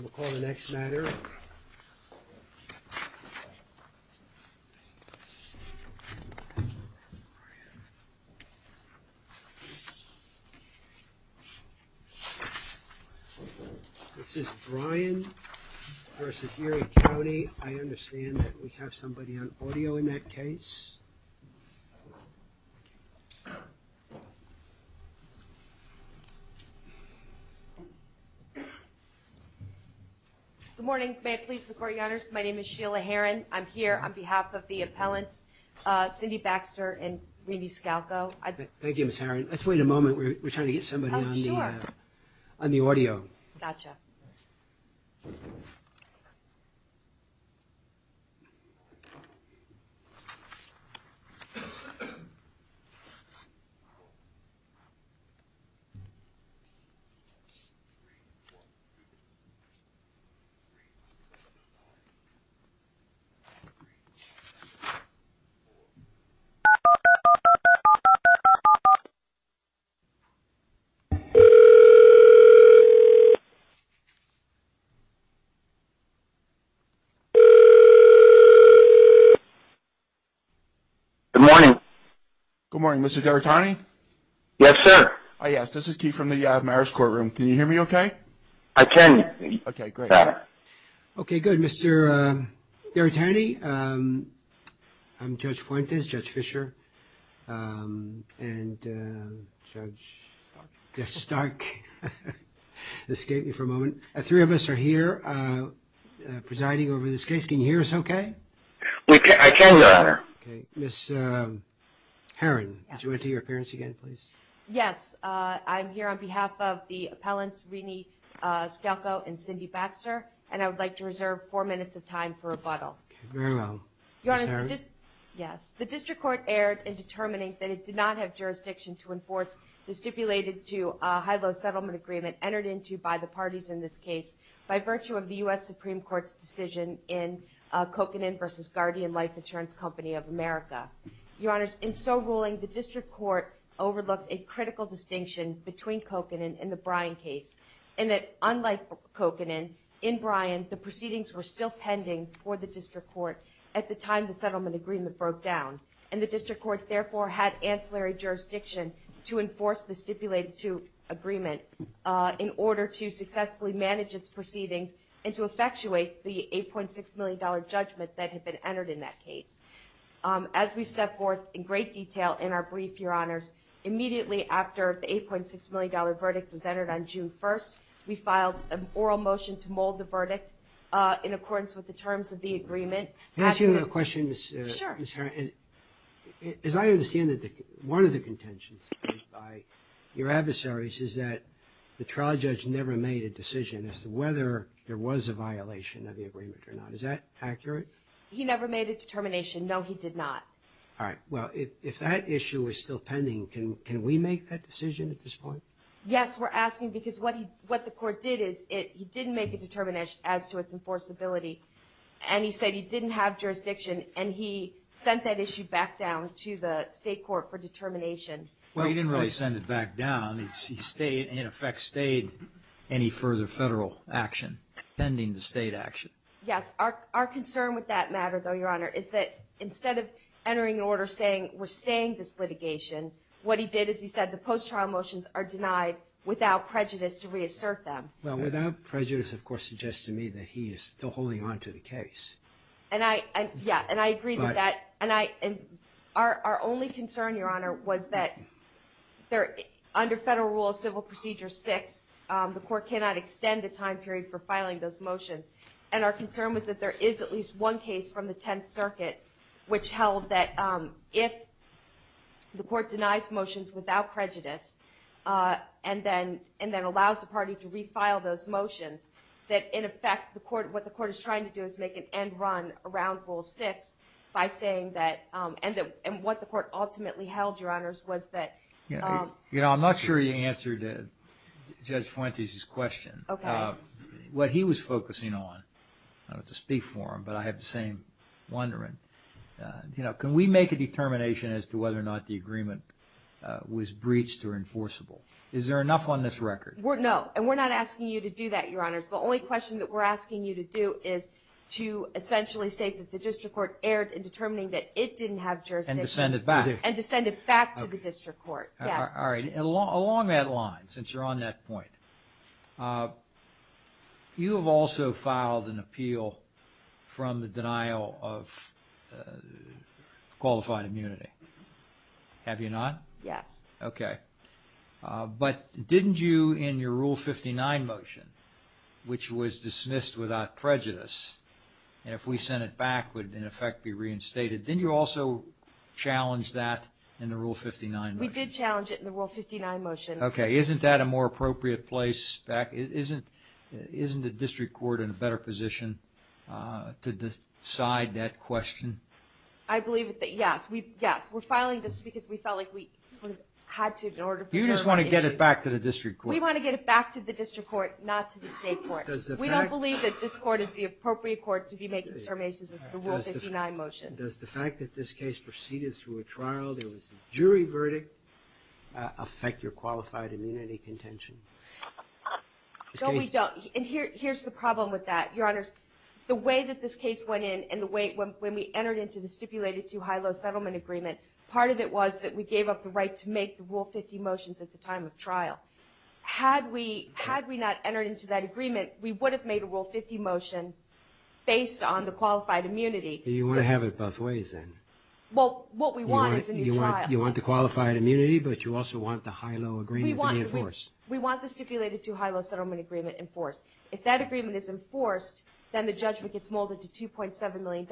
We'll call the next matter. This is Brian versus Erie County. I understand that we Good morning. May it please the court your honors. My name is Sheila Herron. I'm here on behalf of the appellants Cindy Baxter and Randy Scalco. Thank you, Ms. Herron. Let's wait a moment. We're trying to get somebody on the audio. Good morning. Good morning, Mr. D'Artagnan. Yes, sir. Oh, yes. This is Keith from the Okay, good, Mr. D'Artagnan. I'm Judge Fuentes, Judge Fischer, and Judge Stark escaped me for a moment. Three of us are here presiding over this case. Can you hear us okay? We can, your honor. Ms. Herron, would you enter your appearance again, please? Yes, I'm here on behalf of the appellants, Rene Scalco and Cindy Baxter, and I would like to reserve four minutes of time for rebuttal. Very well, Ms. Herron. Yes, the district court erred in determining that it did not have jurisdiction to enforce the stipulated to high-low settlement agreement entered into by the parties in this case by virtue of the US Supreme Court's decision in Kokanen versus Guardian Life Insurance Company of America. Your honors, in so ruling, the district court overlooked a critical distinction between Kokanen and the Bryan case, and that unlike Kokanen, in Bryan, the proceedings were still pending for the district court at the time the settlement agreement broke down, and the district court therefore had ancillary jurisdiction to enforce the stipulated to agreement in order to successfully manage its proceedings and to effectuate the $8.6 million judgment that had been entered in that case. As we've set forth in great haste, your honors, immediately after the $8.6 million verdict was entered on June 1st, we filed an oral motion to mold the verdict in accordance with the terms of the agreement. May I ask you a question, Ms. Herron? Sure. As I understand it, one of the contentions by your adversaries is that the trial judge never made a decision as to whether there was a violation of the agreement or not. Is that accurate? He never made a determination. No, he did not. All right. Well, if that issue is still pending, can we make that decision at this point? Yes, we're asking because what he what the court did is it he didn't make a determination as to its enforceability, and he said he didn't have jurisdiction, and he sent that issue back down to the state court for determination. Well, he didn't really send it back down. He stayed, in effect, stayed any further federal action pending the state action. Yes. Our concern with that matter, though, your honor, is that instead of this litigation, what he did is he said the post-trial motions are denied without prejudice to reassert them. Well, without prejudice, of course, suggests to me that he is still holding on to the case. And I, yeah, and I agree with that, and I, and our only concern, your honor, was that there, under federal rules, Civil Procedure 6, the court cannot extend the time period for filing those motions, and our concern was that there is at least one case from the court denies motions without prejudice, and then, and then allows the party to refile those motions, that, in effect, the court, what the court is trying to do is make an end run around Rule 6 by saying that, and that, and what the court ultimately held, your honors, was that, you know, I'm not sure you answered Judge Fuentes' question. Okay. What he was focusing on, I don't have to speak for him, but I have the same wondering, you know, can we make a determination as to whether or not the agreement was breached or enforceable? Is there enough on this record? We're, no, and we're not asking you to do that, your honors. The only question that we're asking you to do is to essentially state that the district court erred in determining that it didn't have jurisdiction. And to send it back. And to send it back to the district court, yes. All right, and along, along that line, since you're on that point, you have also filed an appeal from the denial of qualified immunity, have you not? Yes. Okay. But didn't you, in your Rule 59 motion, which was dismissed without prejudice, and if we sent it back would, in effect, be reinstated, didn't you also challenge that in the Rule 59 motion? We did challenge it in the Rule 59 motion. Okay, isn't that a more appropriate place back, isn't, isn't the district court in a better position to decide that question? I believe that, yes, we, yes, we're filing this because we felt like we sort of had to in order to determine the issue. You just want to get it back to the district court. We want to get it back to the district court, not to the state court. We don't believe that this court is the appropriate court to be making determinations as to the Rule 59 motion. Does the fact that this case proceeded through a trial, there was a jury verdict, affect your qualified immunity contention? No, we don't, and here, here's the problem with that, Your Honors. The way that this case went in, and the way, when we entered into the stipulated two high-low settlement agreement, part of it was that we gave up the right to make the Rule 50 motions at the time of trial. Had we, had we not entered into that agreement, we would have made a Rule 50 motion based on the qualified immunity. You want to have it both ways, then? Well, what we want is a new trial. You want the qualified immunity, but you also want the high-low agreement to be enforced. We want the stipulated two high-low settlement agreement enforced. If that agreement is enforced, then the judgment gets molded to $2.7 million.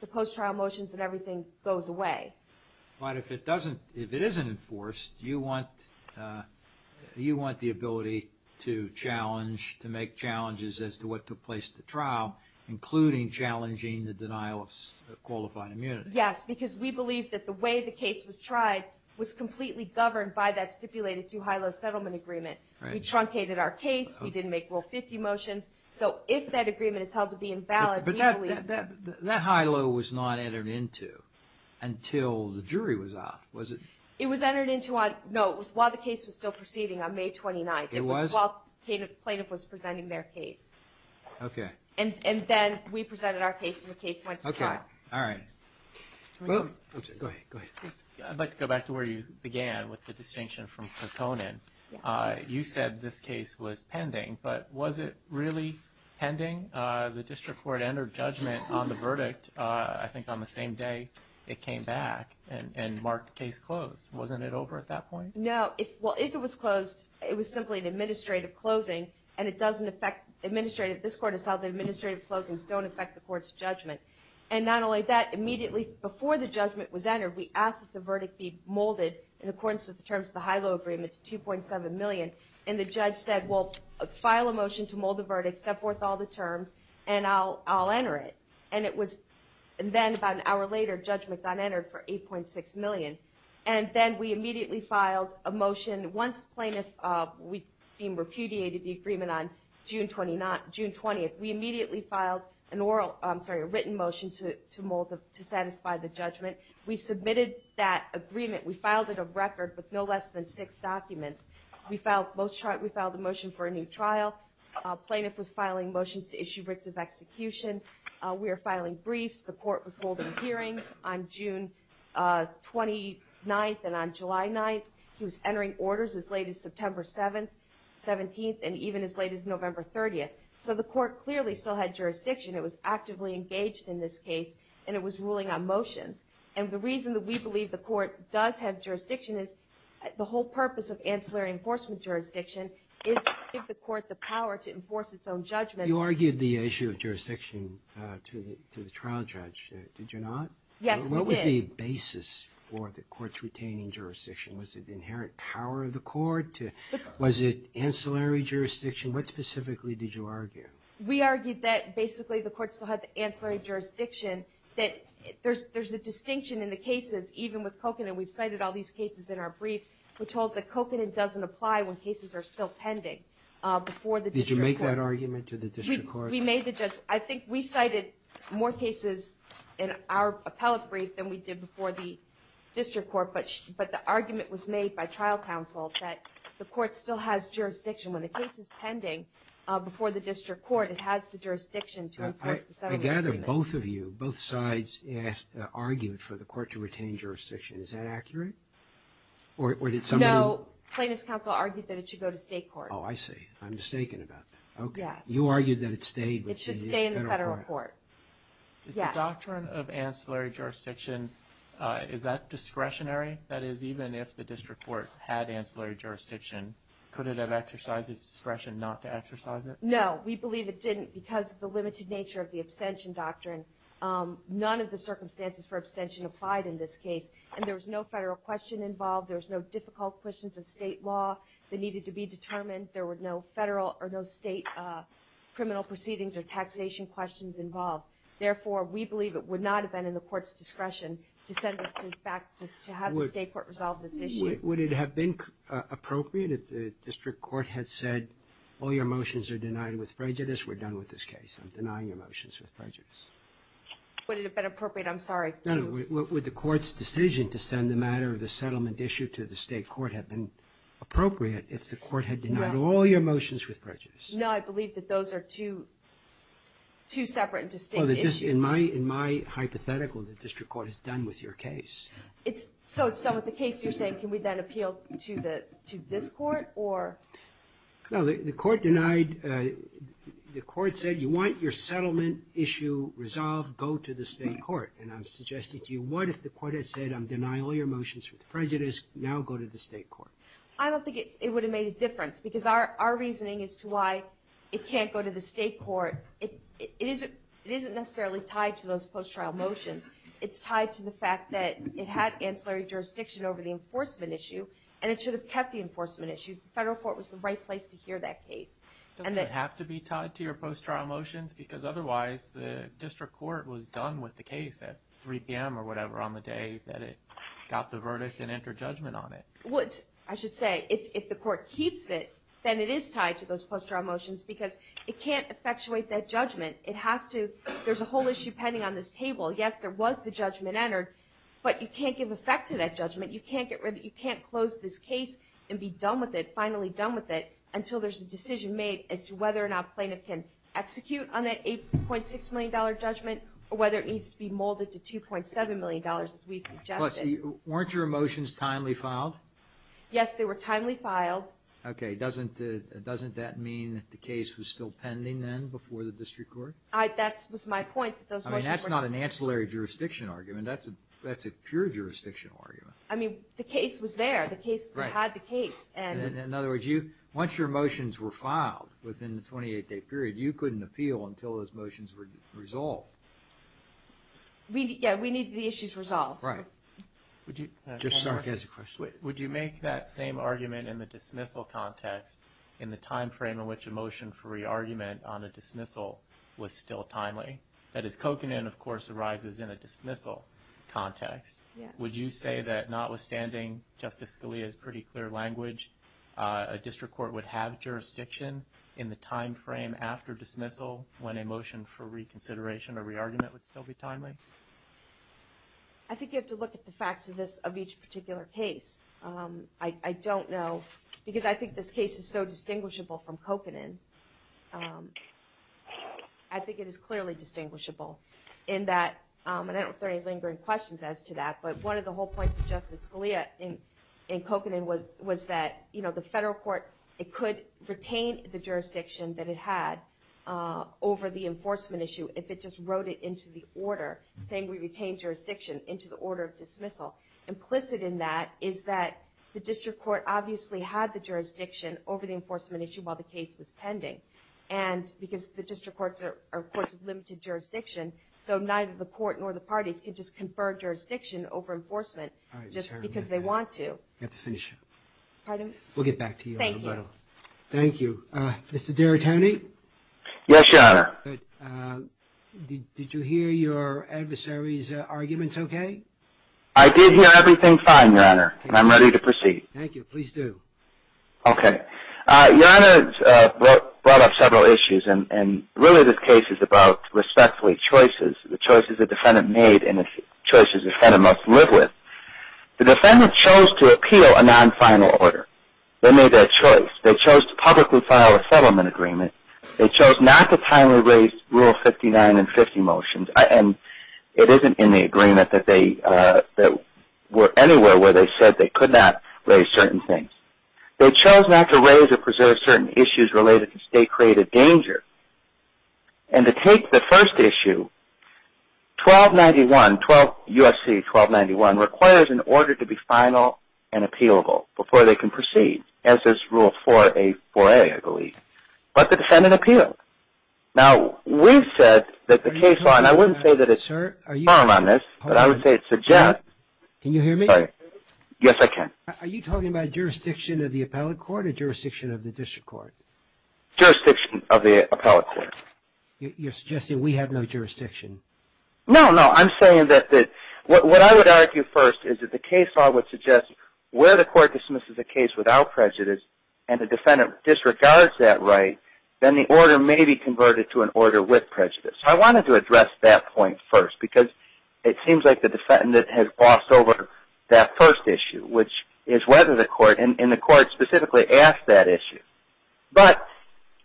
The post-trial motions and everything goes away. But if it doesn't, if it isn't enforced, you want, you want the ability to challenge, to make challenges as to what took place at the trial, including challenging the denial of qualified immunity. Yes, because we believe that the way the case was tried was completely governed by that stipulated two high-low settlement agreement. We truncated our case, we didn't make Rule 50 motions, so if that agreement is held to be invalid, we believe... But that, that high-low was not entered into until the jury was out, was it? It was entered into on, no, it was while the case was still proceeding on May 29th. It was? While plaintiff was presenting their case. Okay. And then we presented our case and the case went to trial. Okay, all right. Go ahead, go ahead. I'd like to go back to where you began with the distinction from Patonin. You said this case was pending, but was it really pending? The district court entered judgment on the verdict, I think, on the same day it came back and marked the case closed. Wasn't it over at that point? No, if, well, if it was closed, it was simply an administrative closing and it doesn't affect administrative, this court has held that administrative closings don't affect the court's judgment. And not only that, immediately before the judgment was entered, we asked that the verdict be molded in accordance with the terms of the high-low agreement to 2.7 million. And the judge said, well, file a motion to mold the verdict, set forth all the terms, and I'll, I'll enter it. And it was then about an hour later, judgment got entered for 8.6 million. And then we immediately filed a motion. Once plaintiff, we deem repudiated the agreement on June 29th, June 20th, we immediately filed an oral, I'm sorry, a written motion to, to mold, to satisfy the judgment. We submitted that agreement. We filed it of record with no less than six documents. We filed most, we filed a motion for a new trial. Plaintiff was filing motions to issue writs of execution. We are filing briefs. The court was holding hearings on June 29th and on July 9th. He was entering orders as late as September 7th, 17th, and even as late as November 30th. So the court clearly still had jurisdiction. It was actively engaged in this case and it was ruling on motions. And the reason that we believe the court does have jurisdiction is the whole purpose of ancillary enforcement jurisdiction is to give the court the power to enforce its own judgment. You argued the issue of jurisdiction to the, to the trial judge, did you not? Yes, we did. What was the basis for the court's retaining jurisdiction? Was it inherent power of the court? Was it ancillary jurisdiction? What specifically did you argue? We argued that basically the court still had the ancillary jurisdiction, that there's, there's a distinction in the cases, even with Kokanen. We've cited all these cases in our brief, which holds that Kokanen doesn't apply when cases are still pending before the district court. Did you make that argument to the district court? I think we cited more cases in our appellate brief than we did before the district court, but, but the argument was made by trial counsel that the court still has jurisdiction when the case is pending before the district court, it has the jurisdiction to enforce the settlement agreement. I gather both of you, both sides argued for the court to retain jurisdiction. Is that accurate? Or did someone? No, plaintiff's counsel argued that it should go to state court. Oh, I see. I'm mistaken about that. Okay. You argued that it stayed. It should stay in the federal court. Is the doctrine of ancillary jurisdiction, is that discretionary? That is, even if the district court had ancillary jurisdiction, could it have exercised its discretion not to exercise it? No, we believe it didn't because of the limited nature of the abstention doctrine. None of the circumstances for abstention applied in this case. And there was no federal question involved. There was no difficult questions of state law that needed to be determined. There were no federal or no state criminal proceedings or taxation questions involved. Therefore, we believe it would not have been in the court's discretion to send it back to have the state court resolve this issue. Would it have been appropriate if the district court had said, all your motions are denied with prejudice, we're done with this case. I'm denying your motions with prejudice. Would it have been appropriate? I'm sorry. No, no. Would the court's decision to send the matter of the settlement issue to the state court have been appropriate if the court had denied all your motions with prejudice? No, I believe that those are two separate and distinct issues. In my hypothetical, the district court is done with your case. So it's done with the case. You're saying, can we then appeal to this court or? No, the court denied. The court said, you want your settlement issue resolved, go to the state court. And I'm suggesting to you, what if the court had said, I'm denying all your motions with prejudice, now go to the state court. I don't think it would have made a difference because our reasoning as to why it can't go to the state court, it isn't necessarily tied to those post-trial motions. It's tied to the fact that it had ancillary jurisdiction over the enforcement issue and it should have kept the enforcement issue. The federal court was the right place to hear that case. Don't they have to be tied to your post-trial motions? Because otherwise the district court was done with the case at 3 p.m. or whatever on the day that it got the verdict and entered judgment on it. I should say, if the court keeps it, then it is tied to those post-trial motions because it can't effectuate that judgment. There's a whole issue pending on this table. Yes, there was the judgment entered, but you can't give effect to that judgment. You can't close this case and be done with it, finally done with it, until there's a decision made as to whether or not a plaintiff can execute on that $8.6 million judgment or whether it needs to be molded to $2.7 million, as we've suggested. Weren't your motions timely filed? Yes, they were timely filed. Okay, doesn't that mean that the case was still pending then before the district court? That was my point. That's not an ancillary jurisdiction argument. That's a pure jurisdictional argument. I mean, the case was there. The case had the case. In other words, once your motions were filed within the 28-day period, you couldn't appeal until those motions resolved. Yeah, we need the issues resolved. Right. Would you make that same argument in the dismissal context in the time frame in which a motion for re-argument on a dismissal was still timely? That is, coconut, of course, arises in a dismissal context. Would you say that notwithstanding Justice Scalia's pretty clear language, a district court would have reconsideration or re-argument would still be timely? I think you have to look at the facts of this, of each particular case. I don't know because I think this case is so distinguishable from coconut. I think it is clearly distinguishable in that, and I don't know if there are any lingering questions as to that, but one of the whole points of Justice Scalia in coconut was that, you know, the federal court, it could retain the jurisdiction that it had over the enforcement issue if it just wrote it into the order, saying we retain jurisdiction into the order of dismissal. Implicit in that is that the district court obviously had the jurisdiction over the enforcement issue while the case was pending, and because the district courts are courts of limited jurisdiction, so neither the court nor the parties can just confer jurisdiction over enforcement just because they want to. Let's finish up. Pardon? We'll get back to you. Thank you. Mr. D'Aretani? Yes, Your Honor. Did you hear your adversary's arguments okay? I did hear everything fine, Your Honor, and I'm ready to proceed. Thank you. Please do. Okay. Your Honor brought up several issues, and really this case is about respectfully choices, the choices the defendant made and the choices the defendant must live with. The defendant chose to appeal a settlement agreement. They chose not to timely raise Rule 59 and 50 motions, and it isn't in the agreement that they were anywhere where they said they could not raise certain things. They chose not to raise or preserve certain issues related to state-created danger, and to take the first issue, 1291, USC 1291, requires an order to be final and the defendant appealed. Now, we said that the case law, and I wouldn't say that it's firm on this, but I would say it suggests. Can you hear me? Yes, I can. Are you talking about jurisdiction of the appellate court or jurisdiction of the district court? Jurisdiction of the appellate court. You're suggesting we have no jurisdiction? No, no. I'm saying that what I would argue first is that the case law would suggest where the court dismisses a case without prejudice and the defendant disregards that right, then the order may be converted to an order with prejudice. I wanted to address that point first because it seems like the defendant has glossed over that first issue, which is whether the court, and the court specifically asked that issue. But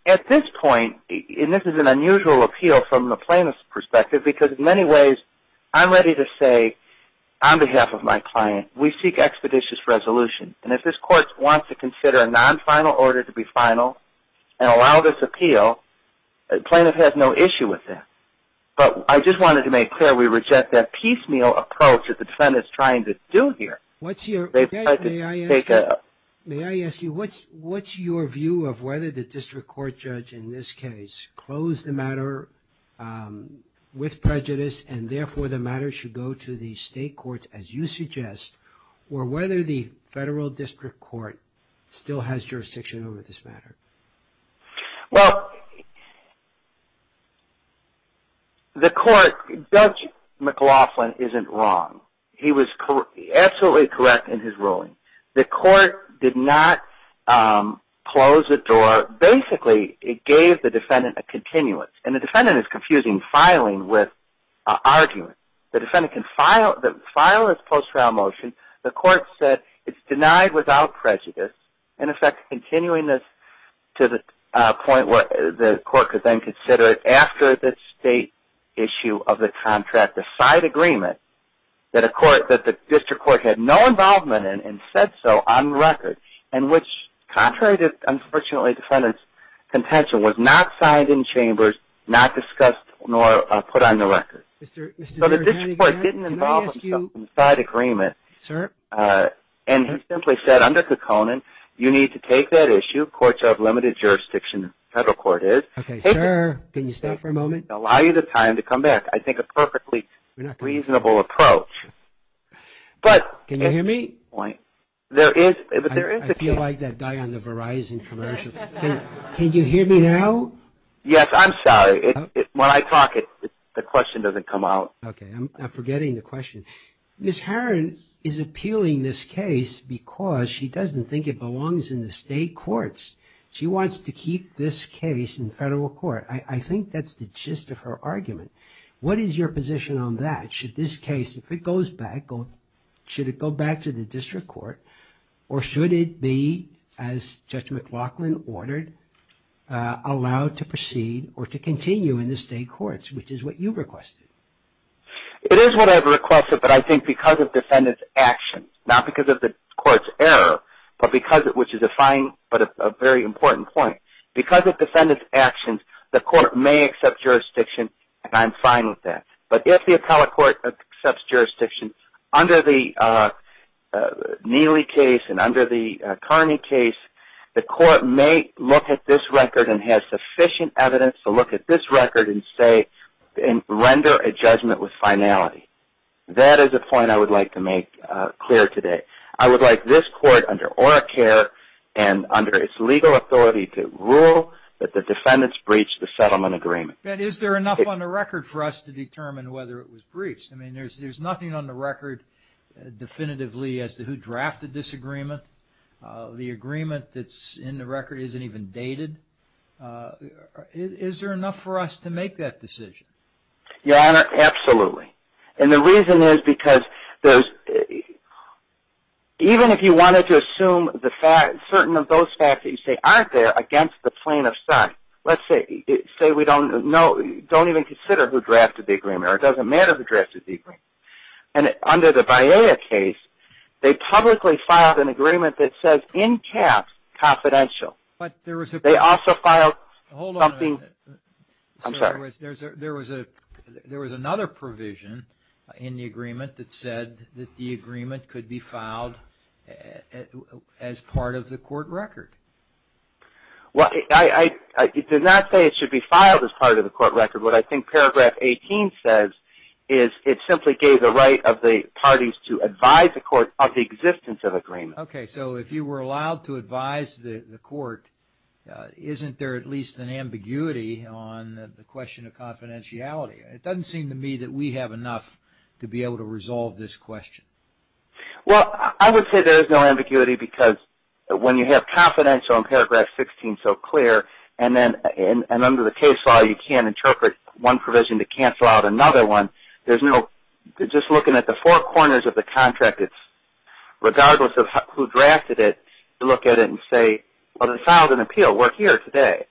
at this point, and this is an unusual appeal from the plaintiff's perspective because in many ways, I'm ready to say on behalf of my client, we seek expeditious resolution. And if this court wants to consider a non-final order to be final and allow this appeal, the plaintiff has no issue with that. But I just wanted to make clear we reject that piecemeal approach that the defendant is trying to do here. What's your... May I ask you, what's your view of whether the district court judge in this case closed the matter with prejudice and therefore the matter should go to the state courts as you suggest, or whether the federal district court still has jurisdiction over this matter? Well, the court, Judge McLaughlin isn't wrong. He was absolutely correct in his ruling. The court did not close the door. Basically, it gave the defendant a continuance. And the defendant is confusing filing with argument. The defendant can file this post-trial motion. The court said it's denied without prejudice. In effect, continuing this to the point where the court could then consider it after the state issue of the contract, the side agreement that the district court had no involvement in and said so on record, and which contrary to, unfortunately, the defendant's contention, was not signed in chambers, not discussed, nor put on the record. So the district court didn't involve itself in the side agreement. And he simply said under Kekkonen, you need to take that issue. Courts have limited jurisdiction, the federal court is. Okay, sir, can you stay for a moment? Allow you the time to reasonable approach. Can you hear me? I feel like that guy on the Verizon commercial. Can you hear me now? Yes, I'm sorry. When I talk, the question doesn't come out. Okay, I'm forgetting the question. Ms. Herron is appealing this case because she doesn't think it belongs in the state courts. She wants to keep this case in federal court. I think that's the should this case, if it goes back, should it go back to the district court, or should it be, as Judge McLaughlin ordered, allowed to proceed or to continue in the state courts, which is what you requested? It is what I've requested, but I think because of defendant's actions, not because of the court's error, but because it, which is a fine, but a very important point. Because of defendant's actions, the court may accept jurisdiction, and I'm fine with that. But if the appellate court accepts jurisdiction under the Neely case and under the Carney case, the court may look at this record and have sufficient evidence to look at this record and render a judgment with finality. That is a point I would like to make clear today. I would like this court under ORACARE and under its legal authority to rule that the defendants breached the settlement agreement. But is there enough on the record for us to determine whether it was breached? I mean, there's nothing on the record definitively as to who drafted this agreement. The agreement that's in the record isn't even dated. Is there enough for us to make that decision? Your Honor, absolutely. And the reason is because there's, even if you wanted to assume the fact, certain of those facts that you say aren't there against the plaintiff's side, let's say we don't know, don't even consider who drafted the agreement, or it doesn't matter who drafted the agreement. And under the Baeya case, they publicly filed an agreement that says in caps, confidential. But there was a... They also filed something... I'm sorry. There was another provision in the agreement that said that the agreement could be I did not say it should be filed as part of the court record. What I think paragraph 18 says is it simply gave the right of the parties to advise the court of the existence of agreement. Okay. So if you were allowed to advise the court, isn't there at least an ambiguity on the question of confidentiality? It doesn't seem to me that we have enough to be able to resolve this question. Well, I would say there is no ambiguity because when you have confidential in paragraph 16 so clear, and under the case law you can't interpret one provision to cancel out another one, there's no... Just looking at the four corners of the contract, regardless of who drafted it, you look at it and say, well, they filed an appeal. We're here today.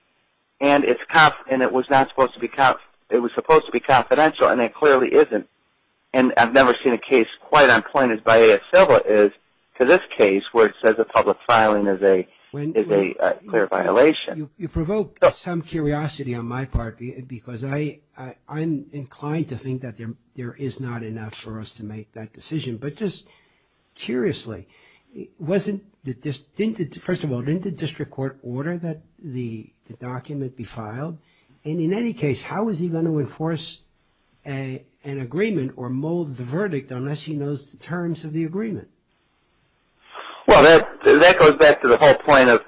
And it was supposed to be confidential, and it clearly isn't. And I've never seen a case quite as unappointed by ASL is to this case where it says a public filing is a clear violation. You provoke some curiosity on my part because I'm inclined to think that there is not enough for us to make that decision. But just curiously, wasn't... First of all, didn't the district court order that the document be filed? And in any case, how is he going to enforce an agreement or mold the verdict unless he knows the terms of the agreement? Well, that goes back to the whole point of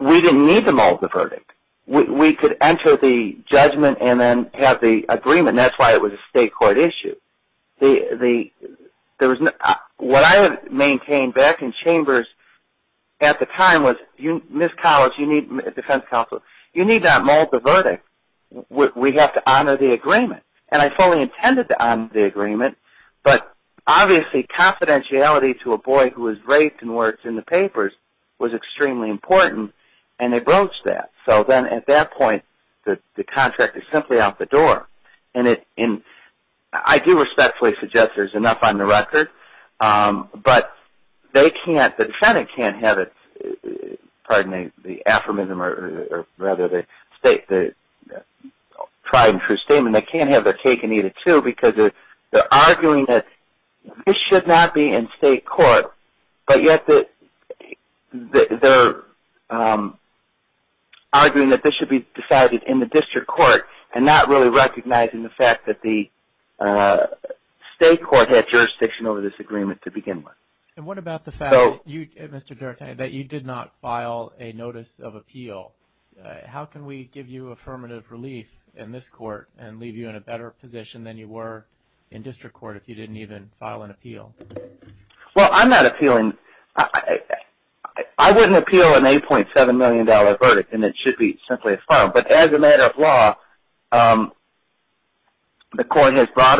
we didn't need to mold the verdict. We could enter the judgment and then have the agreement. That's why it was a state court issue. There was no... What I had maintained back in chambers at the time was, Ms. Collins, you need, defense counsel, you need not mold the verdict. We have to honor the agreement. And I fully intended to honor the agreement. But obviously, confidentiality to a boy who was raped and worked in the papers was extremely important. And they broached that. So then at that point, the contract is simply out the door. And I do respectfully suggest there's enough on the record. But they can't, the defendant can't have it, pardon me, the aphorism or rather the state, the tried and true statement. They can't have their cake and eat it too because they're arguing that this should not be in state court. But yet they're arguing that this should be decided in the district court and not really recognizing the fact that the state court had jurisdiction over this agreement to begin with. And what about the fact that you, Mr. Duarte, that you did not file a notice of appeal? How can we give you affirmative relief in this court and leave you in a better position than you were in district court if you didn't even file an appeal? Well, I'm not appealing. I wouldn't appeal an 8.7 million dollar verdict and it should be simply affirmed. But as a matter of law, the court has broad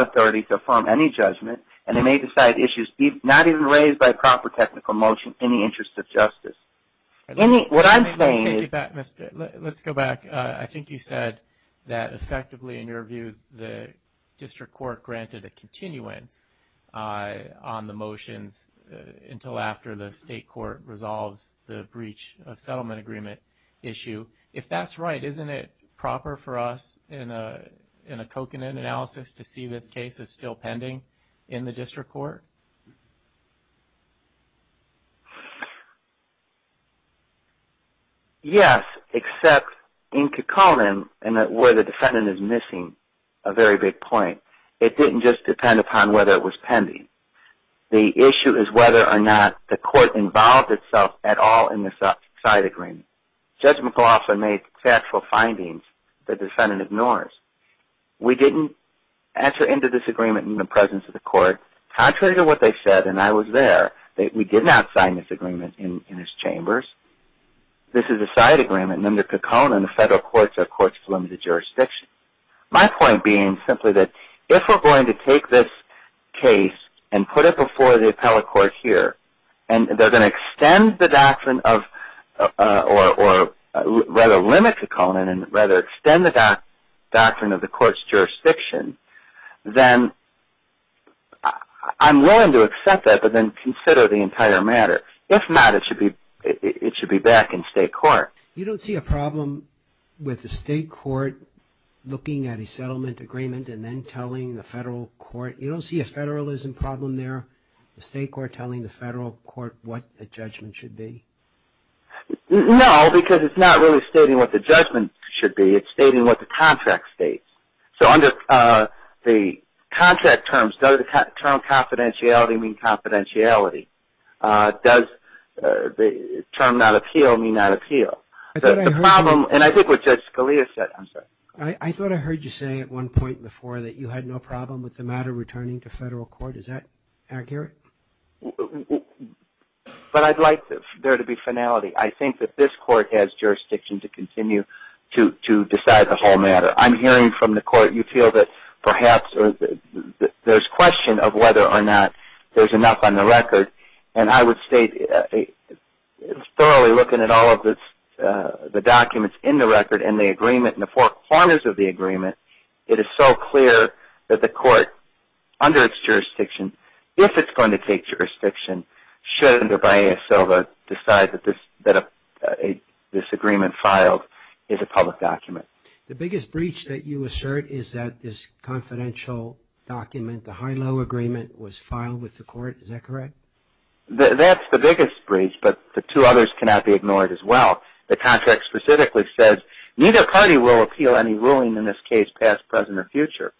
technical motion in the interest of justice. Let me, what I'm saying is... Let's go back. I think you said that effectively in your view, the district court granted a continuance on the motions until after the state court resolves the breach of settlement agreement issue. If that's right, isn't it proper for us in a coconut analysis to see this case is still pending in the district court? Yes, except in coconut and where the defendant is missing a very big point. It didn't just depend upon whether it was pending. The issue is whether or not the court involved itself at all in this side agreement. Judge McLaughlin made factual findings the defendant ignores. We didn't enter into this agreement in the presence of the court. Contrary to what they said, and I was there, we did not sign this agreement in his chambers. This is a side agreement and under coconut, the federal courts are courts to limit the jurisdiction. My point being simply that if we're going to take this case and put it before the appellate court here and they're going to extend the doctrine of or rather limit coconut and rather extend the doctrine of the court's jurisdiction, then I'm willing to accept that but then consider the entire matter. If not, it should be back in state court. You don't see a problem with the state court looking at a settlement agreement and then telling the federal court, you don't see a federalism problem there, the state court telling the federal court what the judgment should be? No, because it's not stating what the judgment should be, it's stating what the contract states. So under the contract terms, does the term confidentiality mean confidentiality? Does the term not appeal mean not appeal? The problem and I think what Judge Scalia said, I'm sorry. I thought I heard you say at one point before that you had no problem with the matter returning to federal court. Is that accurate? But I'd like there to be finality. I think that this court has jurisdiction to continue to decide the whole matter. I'm hearing from the court you feel that perhaps there's question of whether or not there's enough on the record and I would state thoroughly looking at all of the documents in the record and the agreement and the four corners of the agreement, it is so clear that the court under its jurisdiction, if it's going to filed is a public document. The biggest breach that you assert is that this confidential document, the high-low agreement was filed with the court. Is that correct? That's the biggest breach, but the two others cannot be ignored as well. The contract specifically says neither party will appeal any ruling in this case, past, present, or future.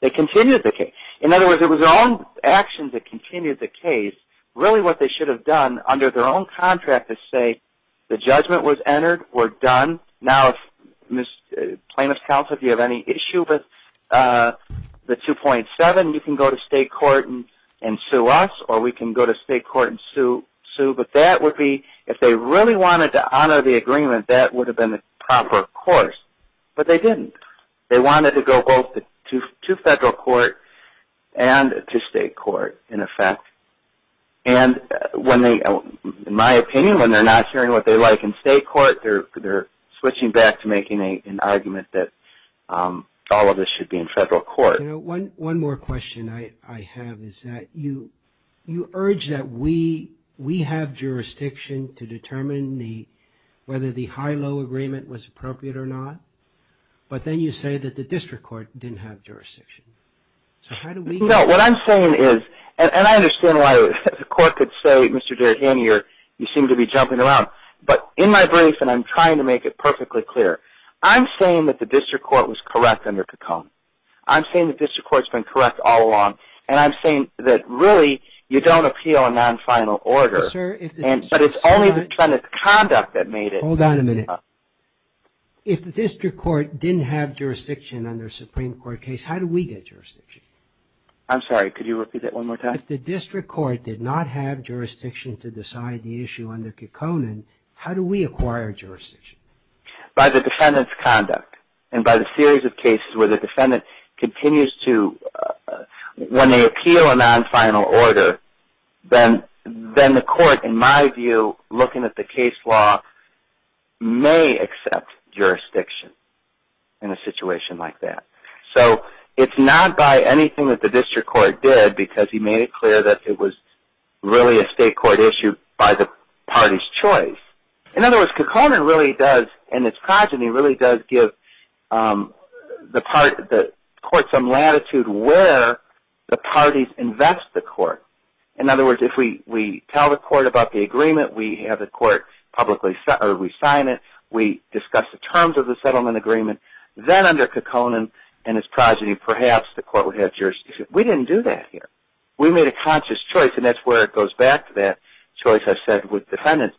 They continued the case. In other words, it was their own actions that continued the case. Really what they should have done under their own contract is say the judgment was entered, we're done. Now if plaintiff's counsel, if you have any issue with the 2.7, you can go to state court and sue us or we can go to state court and sue, but that would be if they really wanted to honor the agreement, that would have been the proper course, but they didn't. They wanted to go both to federal court and to state court in effect. In my opinion, when they're not hearing what they like in state court, they're switching back to making an argument that all of this should be in federal court. One more question I have is that you urge that we have jurisdiction to determine whether the high-low agreement was appropriate or not, but then you say that the district court didn't have jurisdiction. So how do we... No, what I'm saying is, and I understand why the court could say, Mr. Derrigan, you seem to be jumping around, but in my brief, and I'm trying to make it perfectly clear, I'm saying that the district court was correct under Cacone. I'm saying the district court's been correct all along, and I'm saying that really you don't appeal a non-final order, but it's only the defendant's conduct that made it. Hold on a minute. If the district court didn't have jurisdiction under a Supreme Court case, how do we get jurisdiction? I'm sorry, could you repeat that one more time? If the district court did not have jurisdiction to decide the issue under Cacone, how do we acquire jurisdiction? By the defendant's conduct, and by the series of cases where the defendant continues to... When they appeal a case, they may accept jurisdiction in a situation like that. So it's not by anything that the district court did, because he made it clear that it was really a state court issue by the party's choice. In other words, Cacone really does, in its progeny, really does give the court some latitude where the parties invest the court. In other words, if we tell the court about the agreement, we have the court publicly sign it, we discuss the terms of the settlement agreement, then under Cacone and its progeny, perhaps the court would have jurisdiction. We didn't do that here. We made a conscious choice, and that's where it goes back to that choice I said with defendants.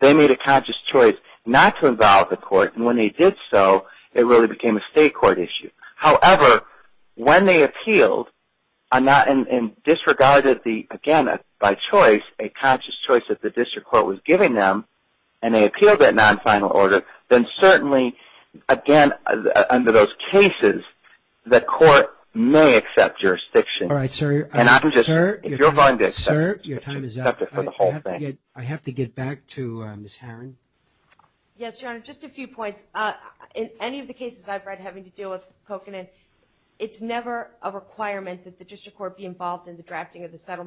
They made a conscious choice not to involve the court, and when they did so, it really became a state court issue. However, when they appealed, and disregarded, again, by choice, a conscious choice that the district court was giving them, and they appealed that non-final order, then certainly, again, under those cases, the court may accept jurisdiction. All right, sir, your time is up. I have to get back to Ms. Herron. Yes, Your Honor, just a few points. In any of the cases I've read having to deal with Coconin, it's never a requirement that the district court be involved in the drafting of the terms,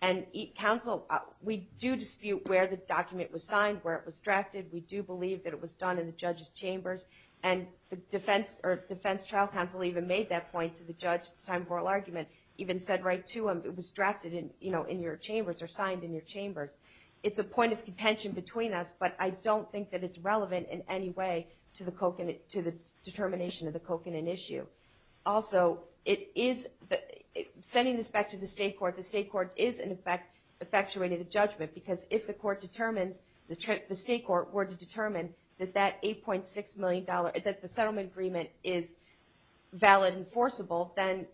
and counsel, we do dispute where the document was signed, where it was drafted. We do believe that it was done in the judge's chambers, and the defense trial counsel even made that point to the judge at the time of oral argument, even said right to him, it was drafted in your chambers or signed in your chambers. It's a point of contention between us, but I don't think that it's relevant in any way to the determination of the Coconin issue. Also, sending this back to the state court, the state court is, in effect, effectuating the judgment, because if the court determines, the state court were to determine that that $8.6 million, that the settlement agreement is valid enforceable, then,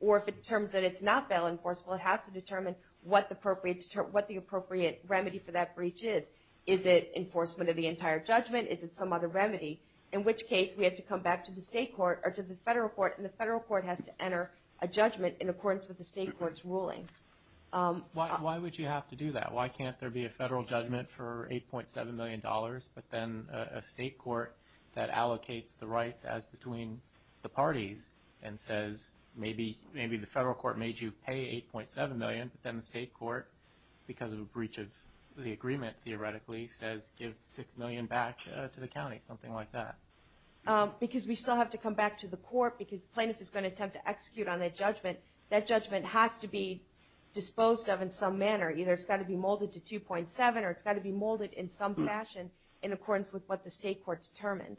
or if it determines that it's not valid enforceable, it has to determine what the appropriate remedy for that breach is. Is it enforcement of the entire judgment? Is it some other remedy? In which case, we have to come back to the state court or to the state court's ruling. Why would you have to do that? Why can't there be a federal judgment for $8.7 million, but then a state court that allocates the rights as between the parties and says, maybe the federal court made you pay $8.7 million, but then the state court, because of a breach of the agreement, theoretically, says give $6 million back to the county, something like that. Because we still have to come back to the court, because has to be disposed of in some manner. Either it's got to be molded to 2.7 or it's got to be molded in some fashion in accordance with what the state court determined.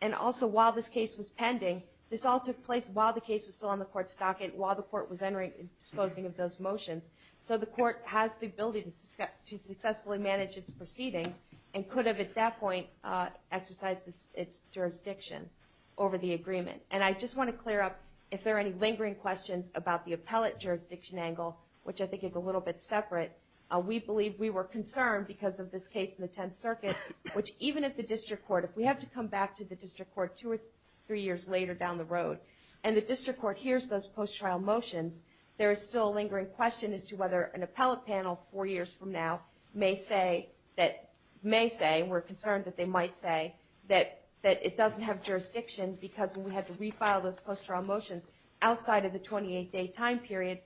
And also, while this case was pending, this all took place while the case was still on the court's stocket, while the court was entering and disposing of those motions. So the court has the ability to successfully manage its proceedings and could have, at that point, exercised its jurisdiction over the angle, which I think is a little bit separate. We believe we were concerned because of this case in the 10th Circuit, which even if the district court, if we have to come back to the district court two or three years later down the road, and the district court hears those post-trial motions, there is still a lingering question as to whether an appellate panel, four years from now, may say, may say, we're concerned that they might say, that it doesn't have jurisdiction because when we had to refile those post-trial motions outside of the 28-day time period,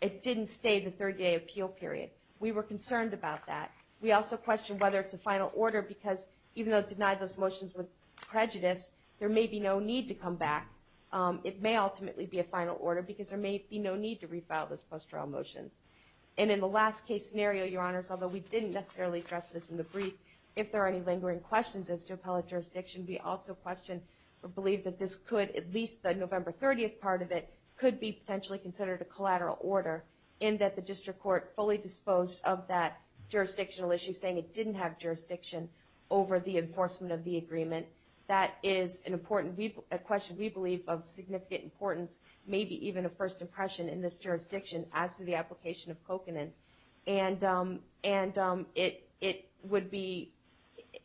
it didn't stay the 30-day appeal period. We were concerned about that. We also questioned whether it's a final order because even though it denied those motions with prejudice, there may be no need to come back. It may ultimately be a final order because there may be no need to refile those post-trial motions. And in the last case scenario, Your Honors, although we didn't necessarily address this in the brief, if there are any lingering questions as to appellate jurisdiction, we also question or believe that this could, at least the November 30th part of it, could be potentially considered a collateral order in that the district court fully disposed of that jurisdictional issue saying it didn't have jurisdiction over the enforcement of the agreement. That is an important question we believe of significant importance, maybe even a first impression in this jurisdiction as to the application of kokanen. And it would be,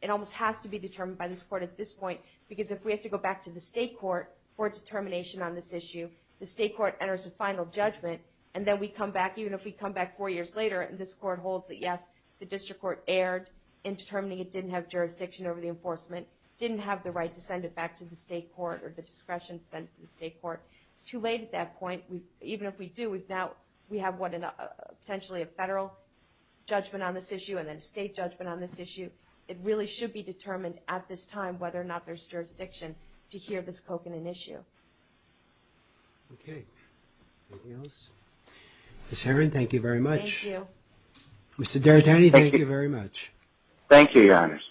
it almost has to be determined by this court at this point because if we have to go back to the state court for determination on this issue, the state court enters a final judgment and then we come back, even if we come back four years later, and this court holds that, yes, the district court erred in determining it didn't have jurisdiction over the enforcement, didn't have the right to send it back to the state court or the discretion to send it to the state court, it's too late at that point. Even if we do, we've now, we have what, potentially a federal judgment on this issue and then a state judgment on this issue. It really should be determined at this time whether or not there's jurisdiction to hear this kokanen issue. Okay. Anything else? Ms. Herron, thank you very much. Thank you. Mr. D'Aretani, thank you very much. Thank you, Your Honor.